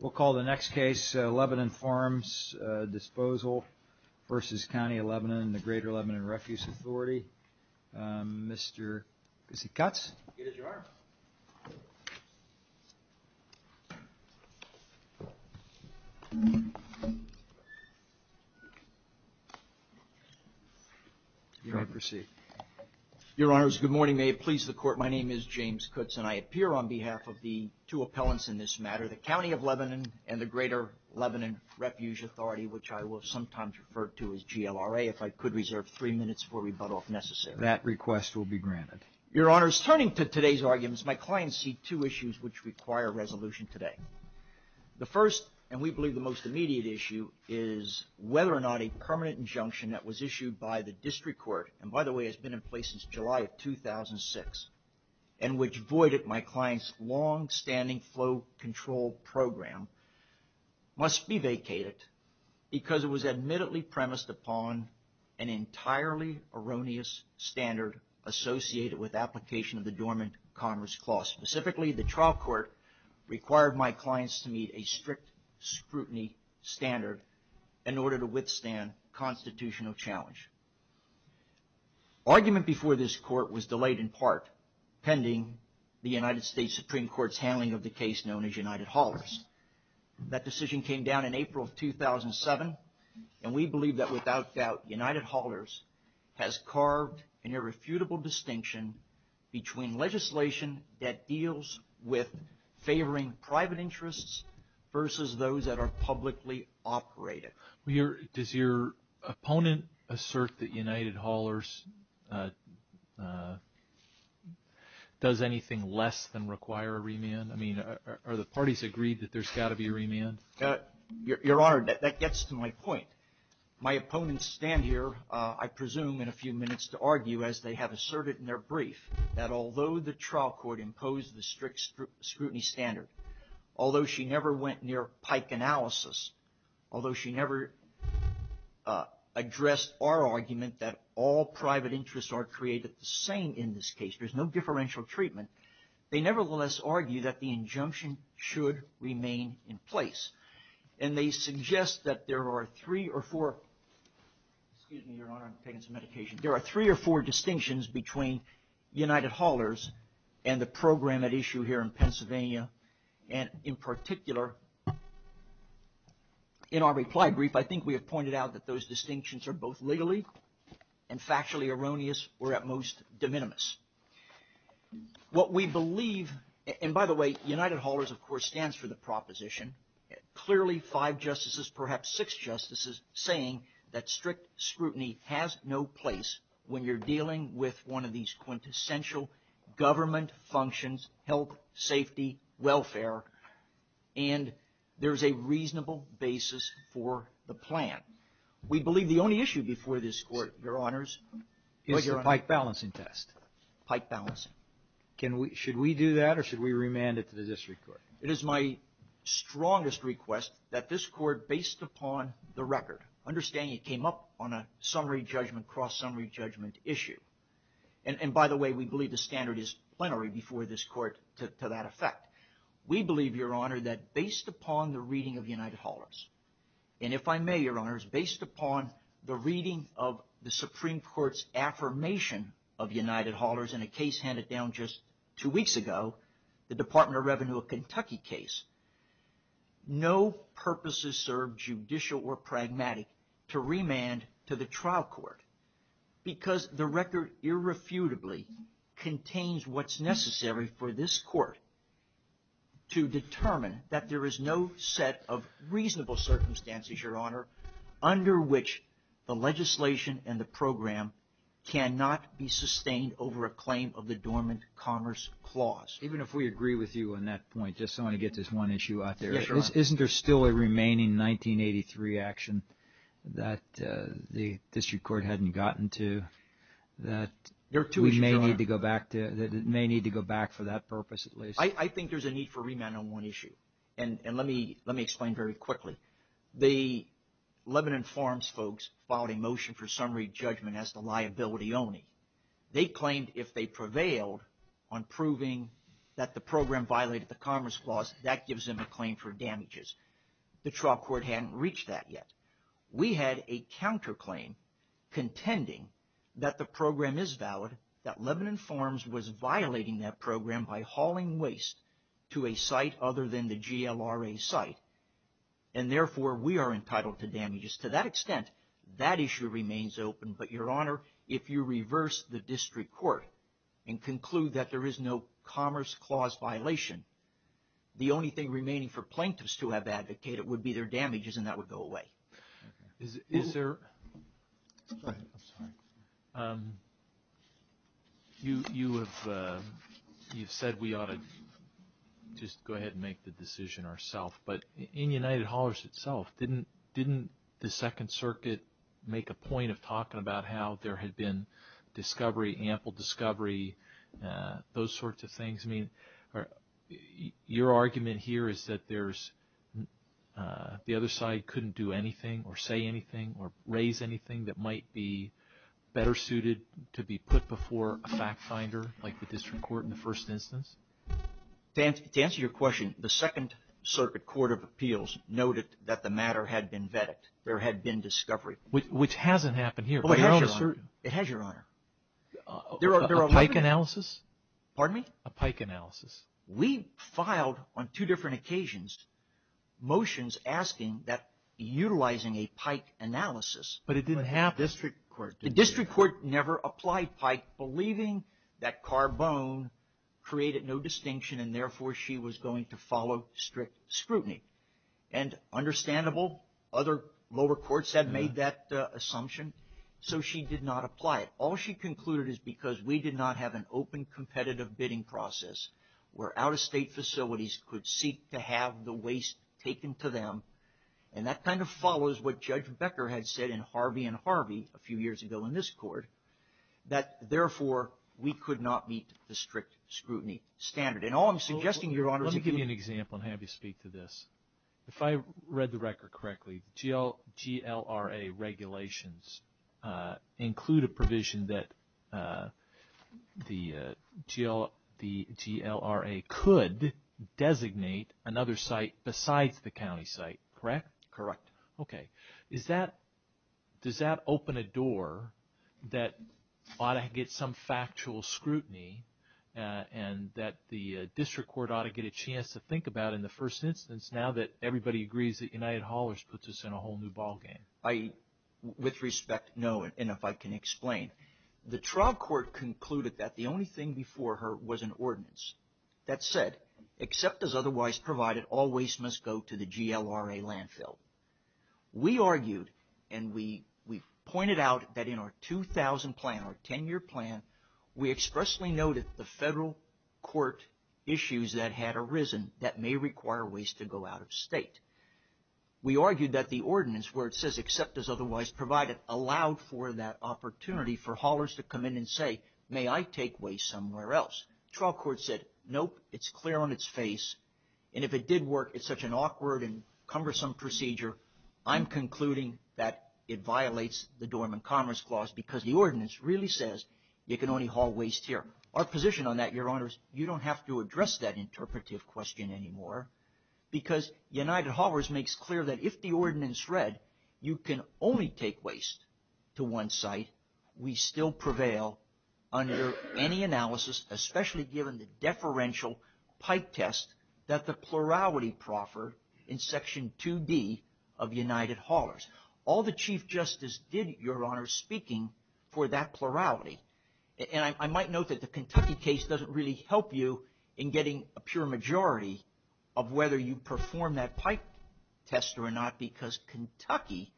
We'll call the next case, Lebanon Farms Disposal v. County of Lebanon and the Greater Lebanon Refuse Authority. Mr. Kutz. Here's your honor. You may proceed. Your honors, good morning. May it please the court, my name is James Kutz and I appear on behalf of the two appellants in this matter, the County of Lebanon and the Greater Lebanon Refuge Authority, which I will sometimes refer to as GLRA, if I could reserve three minutes for rebuttal if necessary. That request will be granted. Your honors, turning to today's arguments, my clients see two issues which require resolution today. The first, and we believe the most immediate issue, is whether or not a permanent injunction that was issued by the district court, and by the way it's been in place since July of 2006, and which voided my client's longstanding flow control program, must be vacated because it was admittedly premised upon an entirely erroneous standard associated with application of the Dormant Commerce Clause. Specifically, the trial court required my clients to meet a strict scrutiny standard in order to withstand constitutional challenge. Argument before this court was delayed in part pending the United States Supreme Court's handling of the case known as United Haulers. That decision came down in April of 2007, and we believe that without doubt United Haulers has carved an irrefutable distinction between legislation that deals with favoring private interests versus those that are publicly operated. Does your opponent assert that United Haulers does anything less than require a remand? I mean, are the parties agreed that there's got to be a remand? Your honor, that gets to my point. My opponents stand here, I presume, in a few minutes to argue, as they have asserted in their brief, that although the trial court imposed the strict scrutiny standard, although she never went near Pike analysis, although she never addressed our argument that all private interests are created the same in this case, there's no differential treatment, they nevertheless argue that the injunction should remain in place. And they suggest that there are three or four, excuse me, your honor, I'm taking some medication, there are three or four distinctions between United Haulers and the program at issue here in Pennsylvania. And in particular, in our reply brief, I think we have pointed out that those distinctions are both legally and factually erroneous or at most de minimis. What we believe, and by the way, United Haulers of course stands for the proposition, clearly five justices, perhaps six justices, saying that strict scrutiny has no place when you're dealing with one of these quintessential government functions, health, safety, welfare, and there's a reasonable basis for the plan. We believe the only issue before this court, your honors, is the Pike balancing test. Pike balancing. Should we do that or should we remand it to the district court? It is my strongest request that this court, based upon the record, understanding it came up on a summary judgment, cross-summary judgment issue, and by the way, we believe the standard is plenary before this court to that effect. We believe, your honor, that based upon the reading of United Haulers, and if I may, your honors, based upon the reading of the Supreme Court's affirmation of United Haulers in a case handed down just two weeks ago, the Department of Revenue of Kentucky case, no purposes served, judicial or pragmatic, to remand to the trial court because the record irrefutably contains what's necessary for this court to determine that there is no set of reasonable circumstances, your honor, under which the legislation and the program cannot be sustained over a claim of the dormant commerce clause. Even if we agree with you on that point, just so I can get this one issue out there. Isn't there still a remaining 1983 action that the district court hadn't gotten to that we may need to go back to, that it may need to go back for that purpose at least? I think there's a need for remand on one issue, and let me explain very quickly. The Lebanon Farms folks filed a motion for summary judgment as the liability only. They claimed if they prevailed on proving that the program violated the commerce clause, that gives them a claim for damages. The trial court hadn't reached that yet. We had a counterclaim contending that the program is valid, that Lebanon Farms was violating that program by hauling waste to a site other than the GLRA site, and therefore we are entitled to damages. To that extent, that issue remains open, but your honor, if you reverse the district court and conclude that there is no commerce clause violation, the only thing remaining for plaintiffs to have advocated would be their damages, and that would go away. Is there – you have said we ought to just go ahead and make the decision ourself, but in United Haulers itself, didn't the Second Circuit make a point of talking about how there had been discovery, ample discovery, those sorts of things? I mean, your argument here is that there's – the other side couldn't do anything or say anything or raise anything that might be better suited to be put before a fact finder, like the district court in the first instance? To answer your question, the Second Circuit Court of Appeals noted that the matter had been vetted. There had been discovery. Which hasn't happened here. It has, your honor. A pike analysis? Pardon me? A pike analysis. We filed on two different occasions motions asking that utilizing a pike analysis – But it didn't happen. The district court never applied pike, believing that Carbone created no distinction and therefore she was going to follow strict scrutiny. And understandable, other lower courts had made that assumption, so she did not apply it. All she concluded is because we did not have an open competitive bidding process where out-of-state facilities could seek to have the waste taken to them, and that kind of follows what Judge Becker had said in Harvey and Harvey a few years ago in this court, that therefore we could not meet the strict scrutiny standard. And all I'm suggesting, your honor, is – Let me give you an example and have you speak to this. If I read the record correctly, GLRA regulations include a provision that the GLRA could designate another site besides the county site, correct? Correct. Okay. Does that open a door that ought to get some factual scrutiny and that the district court ought to get a chance to think about in the first instance now that everybody agrees that United Haulers puts us in a whole new ballgame? With respect, no, and if I can explain. The trial court concluded that the only thing before her was an ordinance that said, except as otherwise provided, all waste must go to the GLRA landfill. We argued and we pointed out that in our 2000 plan, our 10-year plan, we expressly noted the federal court issues that had arisen that may require waste to go out-of-state. We argued that the ordinance where it says, except as otherwise provided, allowed for that opportunity for haulers to come in and say, may I take waste somewhere else? The trial court said, nope, it's clear on its face, and if it did work, it's such an awkward and cumbersome procedure, I'm concluding that it violates the Dormant Commerce Clause because the ordinance really says you can only haul waste here. Our position on that, Your Honors, you don't have to address that interpretive question anymore because United Haulers makes clear that if the ordinance read you can only take waste to one site, we still prevail under any analysis, especially given the deferential pipe test that the plurality proffered in Section 2D of United Haulers. All the Chief Justice did, Your Honors, speaking for that plurality, and I might note that the Kentucky case doesn't really help you in getting a pure majority of whether you perform that pipe test or not because Kentucky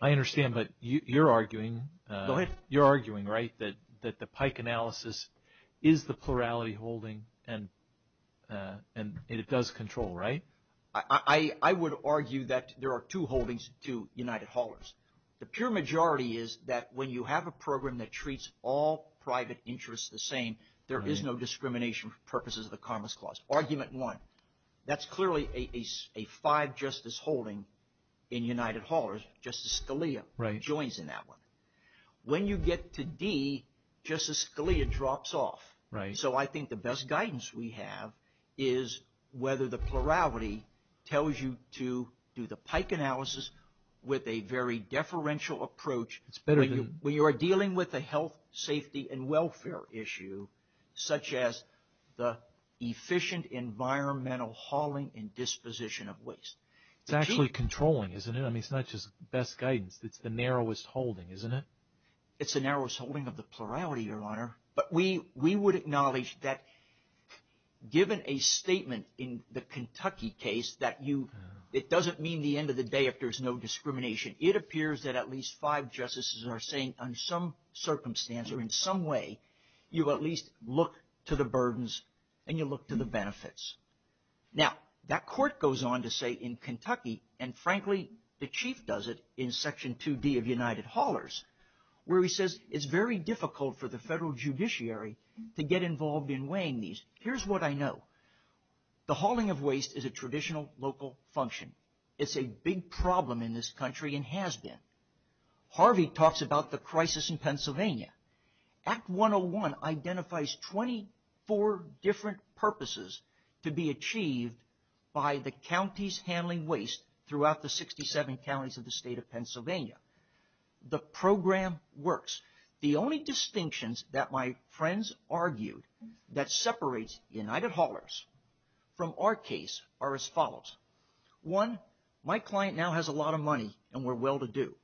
I understand, but you're arguing that the pipe analysis is the plurality holding and it does control, right? I would argue that there are two holdings to United Haulers. The pure majority is that when you have a program that treats all private interests the same, there is no discrimination for purposes of the Commerce Clause, argument one. That's clearly a five-justice holding in United Haulers. Justice Scalia joins in that one. When you get to D, Justice Scalia drops off. So I think the best guidance we have is whether the plurality tells you to do the pipe analysis with a very deferential approach. When you are dealing with a health, safety, and welfare issue such as the efficient environmental hauling and disposition of waste. It's actually controlling, isn't it? I mean, it's not just best guidance. It's the narrowest holding, isn't it? It's the narrowest holding of the plurality, Your Honor. But we would acknowledge that given a statement in the Kentucky case that it doesn't mean the end of the day if there's no discrimination. It appears that at least five justices are saying on some circumstance or in some way, you at least look to the burdens and you look to the benefits. Now, that court goes on to say in Kentucky, and frankly, the Chief does it in Section 2D of United Haulers, where he says it's very difficult for the federal judiciary to get involved in weighing these. Here's what I know. The hauling of waste is a traditional local function. It's a big problem in this country and has been. Harvey talks about the crisis in Pennsylvania. Act 101 identifies 24 different purposes to be achieved by the counties handling waste throughout the 67 counties of the state of Pennsylvania. The program works. The only distinctions that my friends argued that separates United Haulers from our case are as follows. One, my client now has a lot of money and we're well-to-do.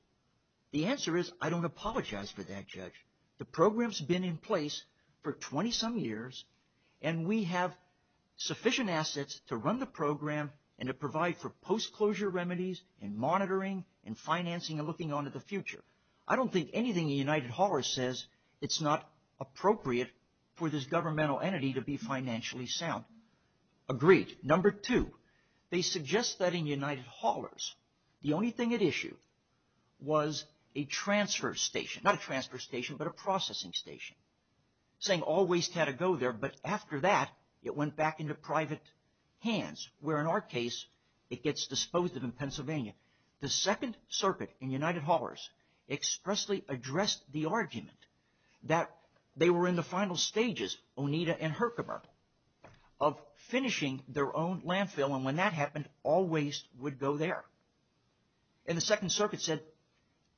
The answer is I don't apologize for that, Judge. The program's been in place for 20-some years and we have sufficient assets to run the program and to provide for post-closure remedies and monitoring and financing and looking on to the future. I don't think anything the United Haulers says it's not appropriate for this governmental entity to be financially sound. Agreed. Number two, they suggest that in United Haulers the only thing at issue was a transfer station. Not a transfer station, but a processing station saying all waste had to go there, but after that it went back into private hands where in our case it gets disposed of in Pennsylvania. The Second Circuit in United Haulers expressly addressed the argument that they were in the final stages, Oneida and Herkimer, of finishing their own landfill and when that happened all waste would go there. And the Second Circuit said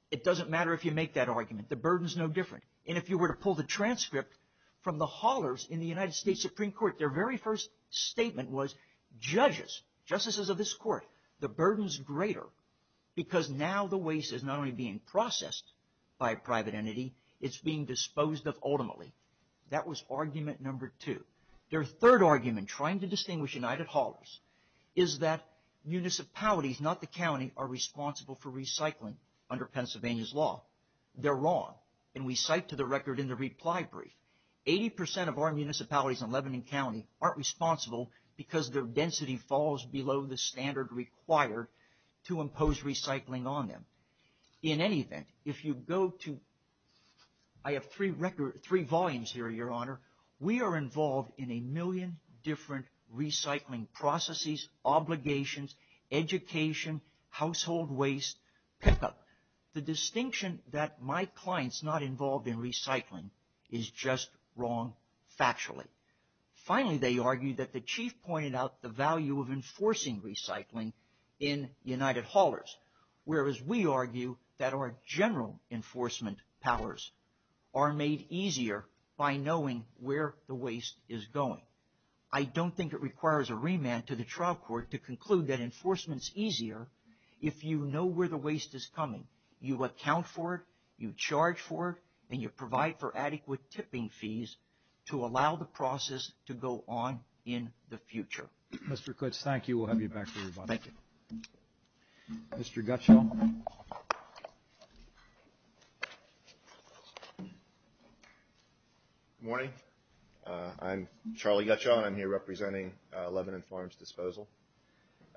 it doesn't matter if you make that argument. The burden's no different. And if you were to pull the transcript from the Haulers in the United States Supreme Court, their very first statement was judges, justices of this court, the burden's greater because now the waste is not only being processed by a private entity, it's being disposed of ultimately. That was argument number two. Their third argument trying to distinguish United Haulers is that municipalities, not the county, are responsible for recycling under Pennsylvania's law. They're wrong and we cite to the record in the reply brief. Eighty percent of our municipalities in Lebanon County aren't responsible because their density falls below the standard required to impose recycling on them. In any event, if you go to, I have three volumes here, Your Honor. We are involved in a million different recycling processes, obligations, education, household waste, pickup. The distinction that my client's not involved in recycling is just wrong factually. Finally, they argued that the chief pointed out the value of enforcing recycling in United Haulers. Whereas we argue that our general enforcement powers are made easier by knowing where the waste is going. I don't think it requires a remand to the trial court to conclude that enforcement's easier if you know where the waste is coming, you account for it, you charge for it, and you provide for adequate tipping fees to allow the process to go on in the future. Mr. Kutz, thank you. We'll have you back for rebuttal. Thank you. Mr. Gutschall. Good morning. I'm Charlie Gutschall and I'm here representing Lebanon Farms Disposal.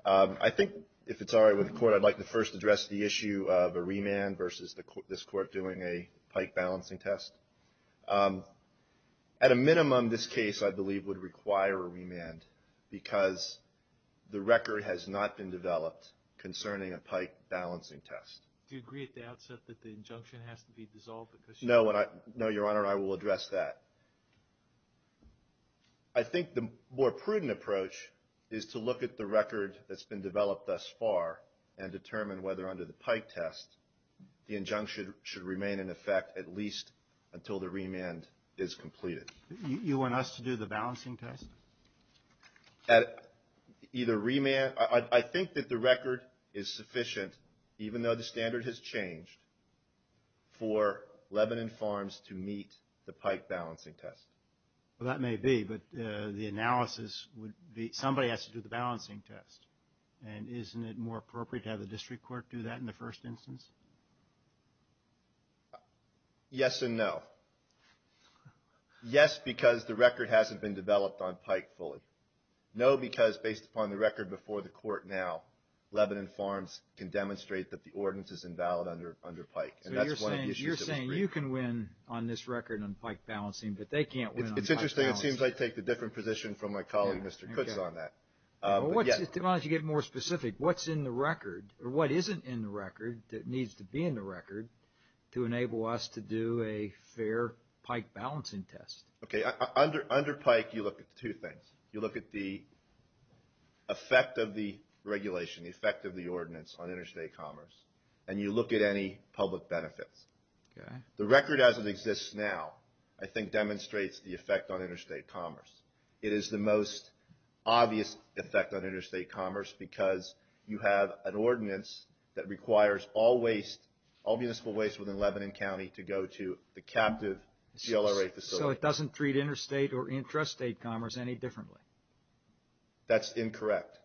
I think if it's all right with the court, I'd like to first address the issue of a remand versus this court doing a pike balancing test. At a minimum, this case, I believe, would require a remand because the record has not been developed concerning a pike balancing test. Do you agree at the outset that the injunction has to be dissolved? No, Your Honor, I will address that. I think the more prudent approach is to look at the record that's been developed thus far and determine whether under the pike test the injunction should remain in effect at least until the remand is completed. You want us to do the balancing test? I think that the record is sufficient, even though the standard has changed, for Lebanon Farms to meet the pike balancing test. Well, that may be, but the analysis would be somebody has to do the balancing test. And isn't it more appropriate to have the district court do that in the first instance? Yes and no. Yes, because the record hasn't been developed on pike fully. No, because based upon the record before the court now, Lebanon Farms can demonstrate that the ordinance is invalid under pike. So you're saying you can win on this record on pike balancing, but they can't win on pike balancing. It's interesting. It seems I take a different position from my colleague, Mr. Cooks, on that. Why don't you get more specific? What's in the record, or what isn't in the record that needs to be in the record to enable us to do a fair pike balancing test? Okay, under pike you look at two things. You look at the effect of the regulation, the effect of the ordinance on interstate commerce, and you look at any public benefits. The record as it exists now I think demonstrates the effect on interstate commerce. It is the most obvious effect on interstate commerce because you have an ordinance that requires all municipal waste within Lebanon County to go to the captive CLRA facility. So it doesn't treat interstate or intrastate commerce any differently? That's incorrect,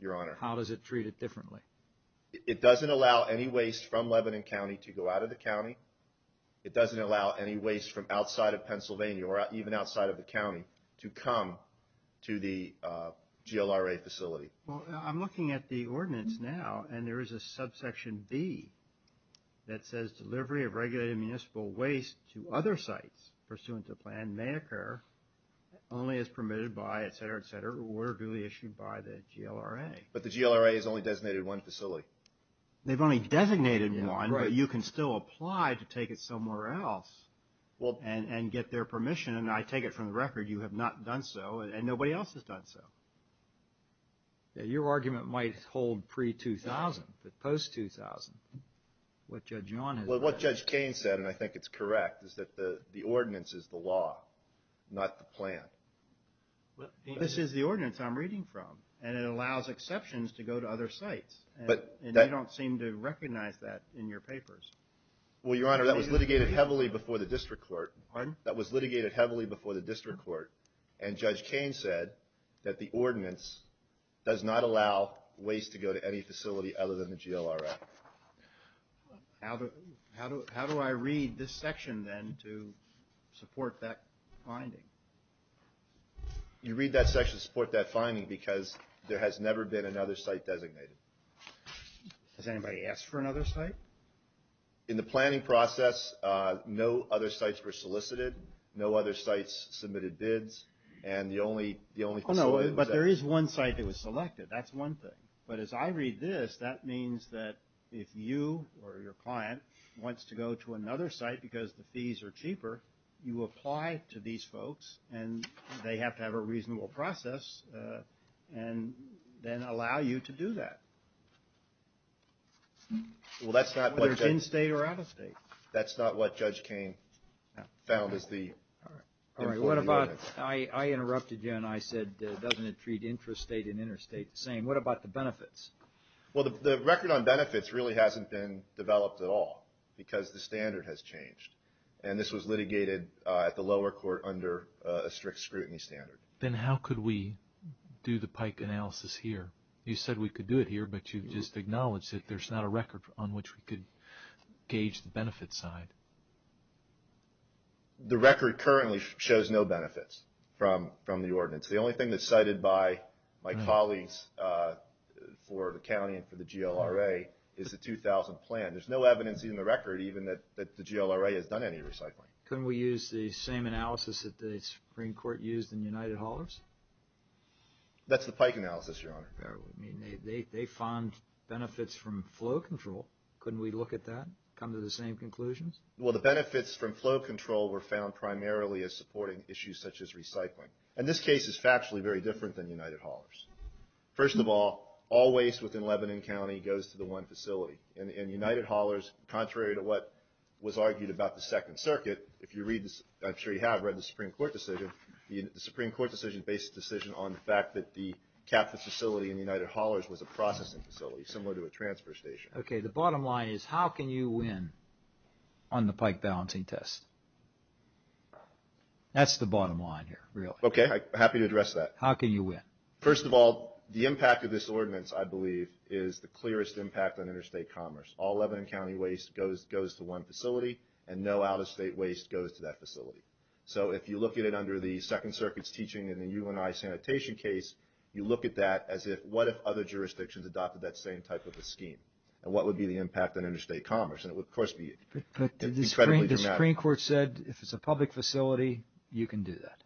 Your Honor. How does it treat it differently? It doesn't allow any waste from Lebanon County to go out of the county. It doesn't allow any waste from outside of Pennsylvania or even outside of the county to come to the GLRA facility. Well, I'm looking at the ordinance now, and there is a subsection B that says delivery of regulated municipal waste to other sites pursuant to plan may occur only as permitted by, et cetera, et cetera, or duly issued by the GLRA. But the GLRA has only designated one facility. They've only designated one, but you can still apply to take it somewhere else and get their permission, and I take it from the record you have not done so, and nobody else has done so. Your argument might hold pre-2000, but post-2000, what Judge John has done. Well, what Judge Cain said, and I think it's correct, is that the ordinance is the law, not the plan. This is the ordinance I'm reading from, and it allows exceptions to go to other sites, and you don't seem to recognize that in your papers. Well, Your Honor, that was litigated heavily before the district court. Pardon? That was litigated heavily before the district court, and Judge Cain said that the ordinance does not allow waste to go to any facility other than the GLRA. How do I read this section then to support that finding? You read that section to support that finding because there has never been another site designated. Has anybody asked for another site? In the planning process, no other sites were solicited, no other sites submitted bids, and the only facility was that. Oh, no, but there is one site that was selected. That's one thing. But as I read this, that means that if you or your client wants to go to another site because the fees are cheaper, you apply to these folks, and they have to have a reasonable process and then allow you to do that. Whether it's in-state or out-of-state. That's not what Judge Cain found as the important ordinance. I interrupted you, and I said, doesn't it treat intrastate and interstate the same? What about the benefits? Well, the record on benefits really hasn't been developed at all because the standard has changed, and this was litigated at the lower court under a strict scrutiny standard. Then how could we do the PIKE analysis here? You said we could do it here, but you just acknowledged that there's not a record on which we could gauge the benefits side. The record currently shows no benefits from the ordinance. The only thing that's cited by my colleagues for the county and for the GLRA is the 2000 plan. There's no evidence in the record even that the GLRA has done any recycling. Couldn't we use the same analysis that the Supreme Court used in United Haulers? That's the PIKE analysis, Your Honor. They found benefits from flow control. Couldn't we look at that, come to the same conclusions? Well, the benefits from flow control were found primarily as supporting issues such as recycling, and this case is factually very different than United Haulers. First of all, all waste within Lebanon County goes to the one facility, and United Haulers, contrary to what was argued about the Second Circuit, if you read this, I'm sure you have read the Supreme Court decision, the Supreme Court decision based the decision on the fact that the capital facility in United Haulers was a processing facility, similar to a transfer station. Okay, the bottom line is how can you win on the PIKE balancing test? That's the bottom line here, really. Okay, I'm happy to address that. How can you win? First of all, the impact of this ordinance, I believe, is the clearest impact on interstate commerce. All Lebanon County waste goes to one facility, and no out-of-state waste goes to that facility. So if you look at it under the Second Circuit's teaching in the UNI sanitation case, you look at that as if what if other jurisdictions adopted that same type of a scheme, and what would be the impact on interstate commerce? And it would, of course, be incredibly dramatic. But the Supreme Court said if it's a public facility, you can do that.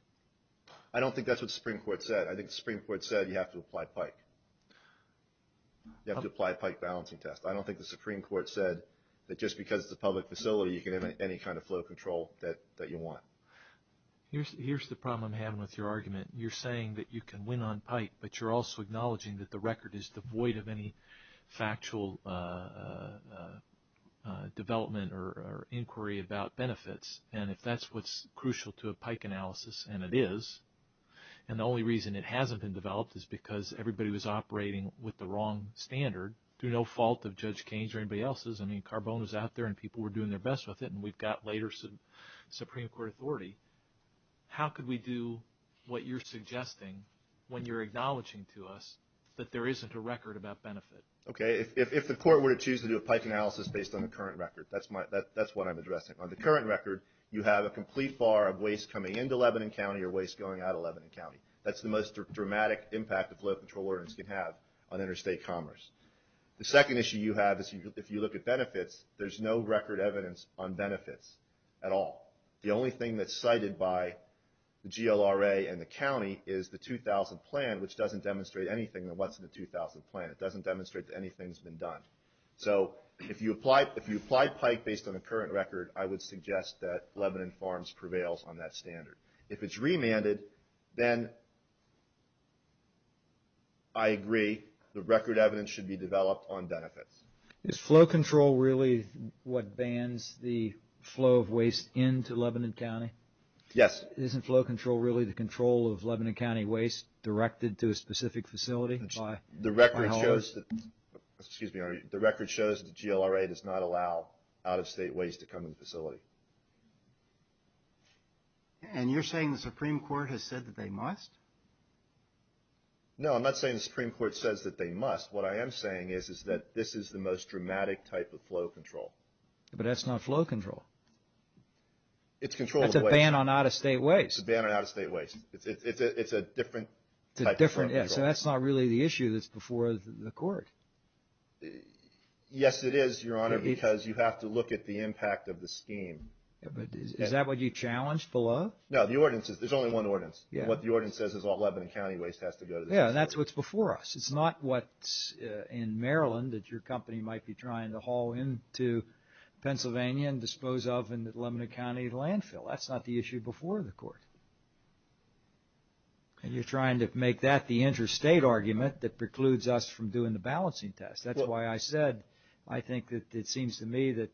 I don't think that's what the Supreme Court said. I think the Supreme Court said you have to apply PIKE. You have to apply a PIKE balancing test. I don't think the Supreme Court said that just because it's a public facility, you can have any kind of flow control that you want. Here's the problem I'm having with your argument. You're saying that you can win on PIKE, but you're also acknowledging that the record is devoid of any factual development or inquiry about benefits. And if that's what's crucial to a PIKE analysis, and it is, and the only reason it hasn't been developed is because everybody was operating with the wrong standard through no fault of Judge Keynes or anybody else's. I mean, Carbone was out there, and people were doing their best with it, and we've got later Supreme Court authority. How could we do what you're suggesting when you're acknowledging to us that there isn't a record about benefit? Okay. If the court were to choose to do a PIKE analysis based on the current record, that's what I'm addressing. On the current record, you have a complete bar of waste coming into Lebanon County or waste going out of Lebanon County. That's the most dramatic impact a flow control ordinance can have on interstate commerce. The second issue you have is if you look at benefits, there's no record evidence on benefits at all. The only thing that's cited by the GLRA and the county is the 2000 plan, which doesn't demonstrate anything that was in the 2000 plan. It doesn't demonstrate that anything's been done. So if you applied PIKE based on the current record, I would suggest that Lebanon Farms prevails on that standard. If it's remanded, then I agree the record evidence should be developed on benefits. Is flow control really what bans the flow of waste into Lebanon County? Yes. Isn't flow control really the control of Lebanon County waste directed to a specific facility? The record shows that the GLRA does not allow out-of-state waste to come in the facility. And you're saying the Supreme Court has said that they must? No, I'm not saying the Supreme Court says that they must. What I am saying is that this is the most dramatic type of flow control. But that's not flow control. It's control of waste. That's a ban on out-of-state waste. It's a ban on out-of-state waste. It's a different type of flow control. So that's not really the issue that's before the court. Yes, it is, Your Honor, because you have to look at the impact of the scheme. Is that what you challenged below? No, there's only one ordinance. What the ordinance says is all Lebanon County waste has to go to the Supreme Court. Yeah, and that's what's before us. It's not what's in Maryland that your company might be trying to haul into Pennsylvania and dispose of in the Lebanon County landfill. That's not the issue before the court. And you're trying to make that the interstate argument that precludes us from doing the balancing test. That's why I said I think that it seems to me that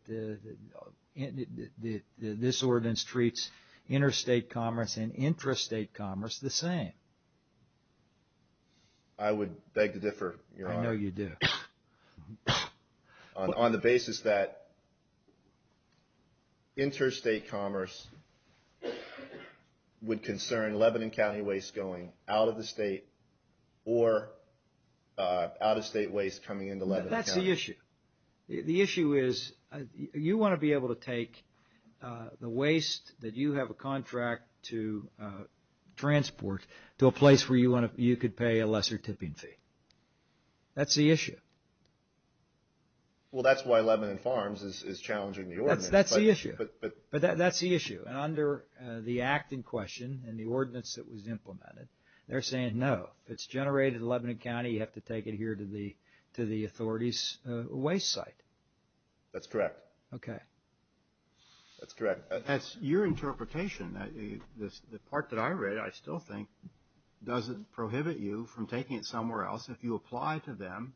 this ordinance treats interstate commerce and intrastate commerce the same. I would beg to differ, Your Honor. I know you do. On the basis that interstate commerce would concern Lebanon County waste going out of the state or out-of-state waste coming into Lebanon County. That's the issue. The issue is you want to be able to take the waste that you have a contract to transport to a place where you could pay a lesser tipping fee. That's the issue. Well, that's why Lebanon Farms is challenging the ordinance. That's the issue. But that's the issue. And under the act in question and the ordinance that was implemented, they're saying no. If it's generated in Lebanon County, you have to take it here to the authorities' waste site. That's correct. Okay. That's correct. That's your interpretation. The part that I read, I still think, doesn't prohibit you from taking it somewhere else if you apply to them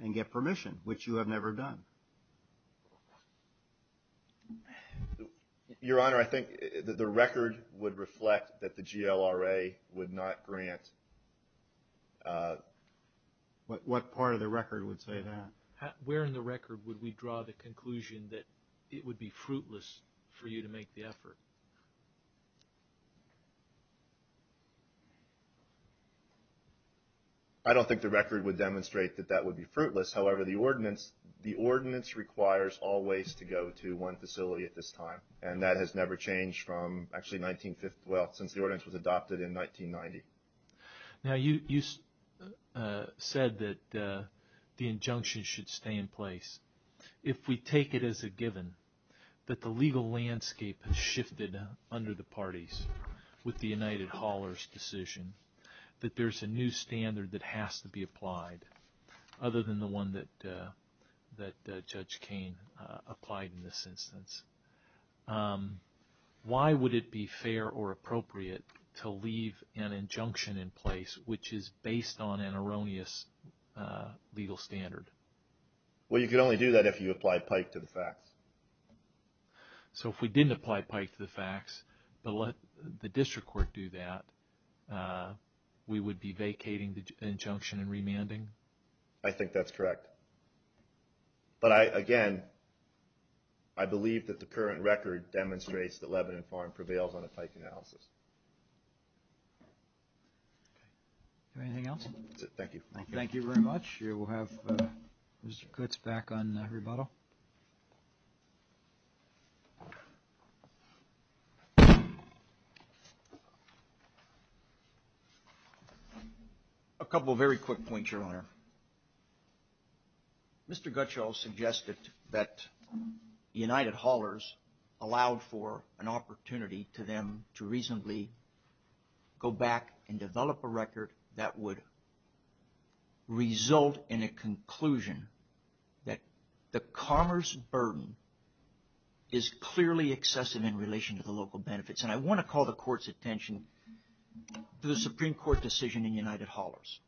and get permission, which you have never done. Your Honor, I think the record would reflect that the GLRA would not grant. What part of the record would say that? Where in the record would we draw the conclusion that it would be fruitless for you to make the effort? I don't think the record would demonstrate that that would be fruitless. However, the ordinance requires all waste to go to one facility at this time, and that has never changed since the ordinance was adopted in 1990. Now, you said that the injunction should stay in place. If we take it as a given that the legal landscape has shifted under the parties with the United Haulers' decision that there's a new standard that has to be applied, other than the one that Judge Cain applied in this instance, why would it be fair or appropriate to leave an injunction in place which is based on an erroneous legal standard? Well, you could only do that if you applied Pike to the facts. So if we didn't apply Pike to the facts, but let the district court do that, we would be vacating the injunction and remanding? I think that's correct. But, again, I believe that the current record demonstrates that Lebanon Farm prevails on a Pike analysis. Anything else? That's it. Thank you. Thank you very much. We'll have Mr. Gutz back on rebuttal. A couple of very quick points, Your Honor. Mr. Gutschel suggested that United Haulers allowed for an opportunity to them to reasonably go back and develop a record that would result in a conclusion that the commerce burden is clearly excessive in relation to the local benefits. And I want to call the Court's attention to the Supreme Court decision in United Haulers.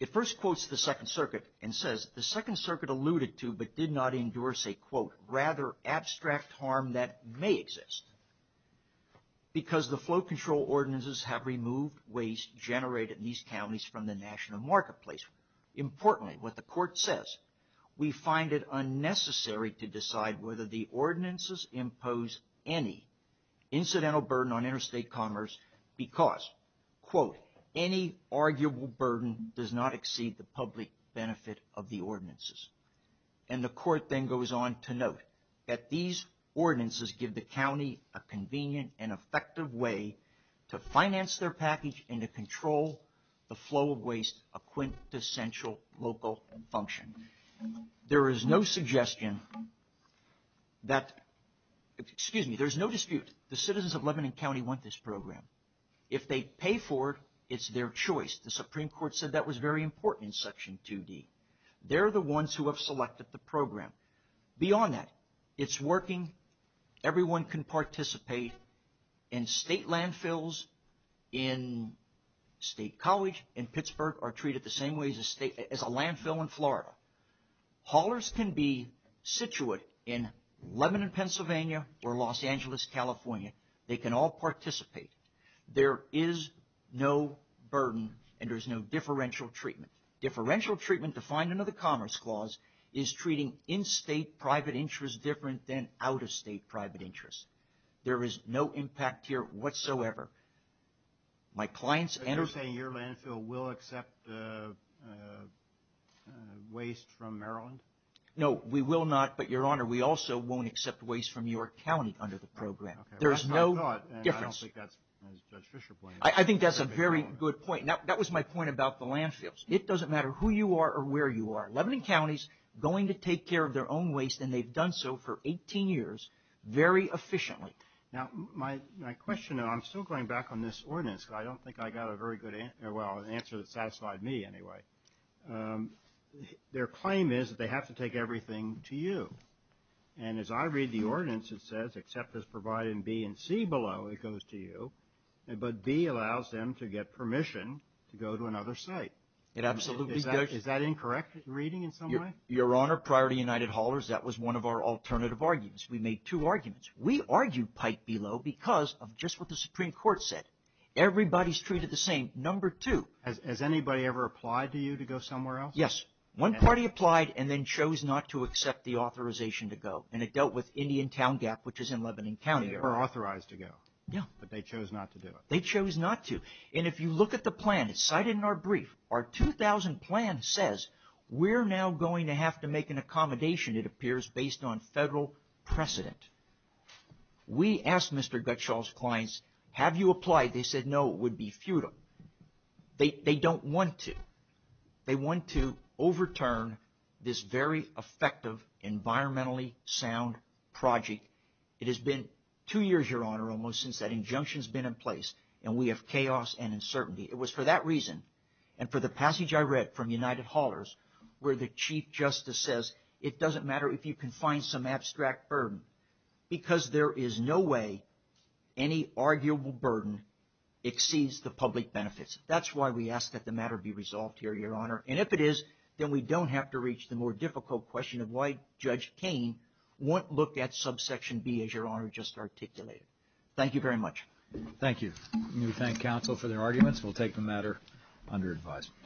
It first quotes the Second Circuit and says, the Second Circuit alluded to but did not endorse a, quote, rather abstract harm that may exist because the flow control ordinances have removed waste generated in these counties from the national marketplace. Importantly, what the Court says, we find it unnecessary to decide whether the ordinances impose any incidental burden on interstate commerce because, quote, any arguable burden does not exceed the public benefit of the ordinances. And the Court then goes on to note that these ordinances give the county a convenient and effective way to finance their package and to control the flow of waste, a quintessential local function. There is no suggestion that, excuse me, there's no dispute, the citizens of Lebanon County want this program. If they pay for it, it's their choice. The Supreme Court said that was very important in Section 2D. They're the ones who have selected the program. Beyond that, it's working. Everyone can participate in state landfills in State College, in Pittsburgh are treated the same way as a landfill in Florida. Haulers can be situated in Lebanon, Pennsylvania or Los Angeles, California. They can all participate. There is no burden and there's no differential treatment. Differential treatment, defined under the Commerce Clause, is treating in-state private interest different than out-of-state private interest. There is no impact here whatsoever. My clients and... You're saying your landfill will accept waste from Maryland? No, we will not, but, Your Honor, we also won't accept waste from your county under the program. There is no difference. I think that's a very good point. That was my point about the landfills. It doesn't matter who you are or where you are. Lebanon County is going to take care of their own waste, and they've done so for 18 years very efficiently. Now, my question, and I'm still going back on this ordinance because I don't think I got a very good answer, well, an answer that satisfied me anyway. Their claim is that they have to take everything to you. And as I read the ordinance, it says, except as provided in B and C below, it goes to you, but B allows them to get permission to go to another site. It absolutely does. Is that incorrect reading in some way? Your Honor, Priority United Haulers, that was one of our alternative arguments. We made two arguments. We argued pipe below because of just what the Supreme Court said. Everybody's treated the same. Number two... Has anybody ever applied to you to go somewhere else? Yes. One party applied and then chose not to accept the authorization to go, and it dealt with Indian Town Gap, which is in Lebanon County. They were authorized to go. Yeah. But they chose not to do it. They chose not to. And if you look at the plan, it's cited in our brief. Our 2000 plan says, we're now going to have to make an accommodation, it appears, based on federal precedent. We asked Mr. Gutschall's clients, have you applied? They said, no, it would be futile. They don't want to. They want to overturn this very effective, environmentally sound project. It has been two years, Your Honor, almost, since that injunction's been in place, and we have chaos and uncertainty. It was for that reason and for the passage I read from United Haulers, where the Chief Justice says, it doesn't matter if you can find some abstract burden because there is no way any arguable burden exceeds the public benefits. That's why we ask that the matter be resolved here, Your Honor. And if it is, then we don't have to reach the more difficult question of why Judge Kaine won't look at subsection B, as Your Honor just articulated. Thank you very much. Thank you. We thank counsel for their arguments. We'll take the matter under advisement.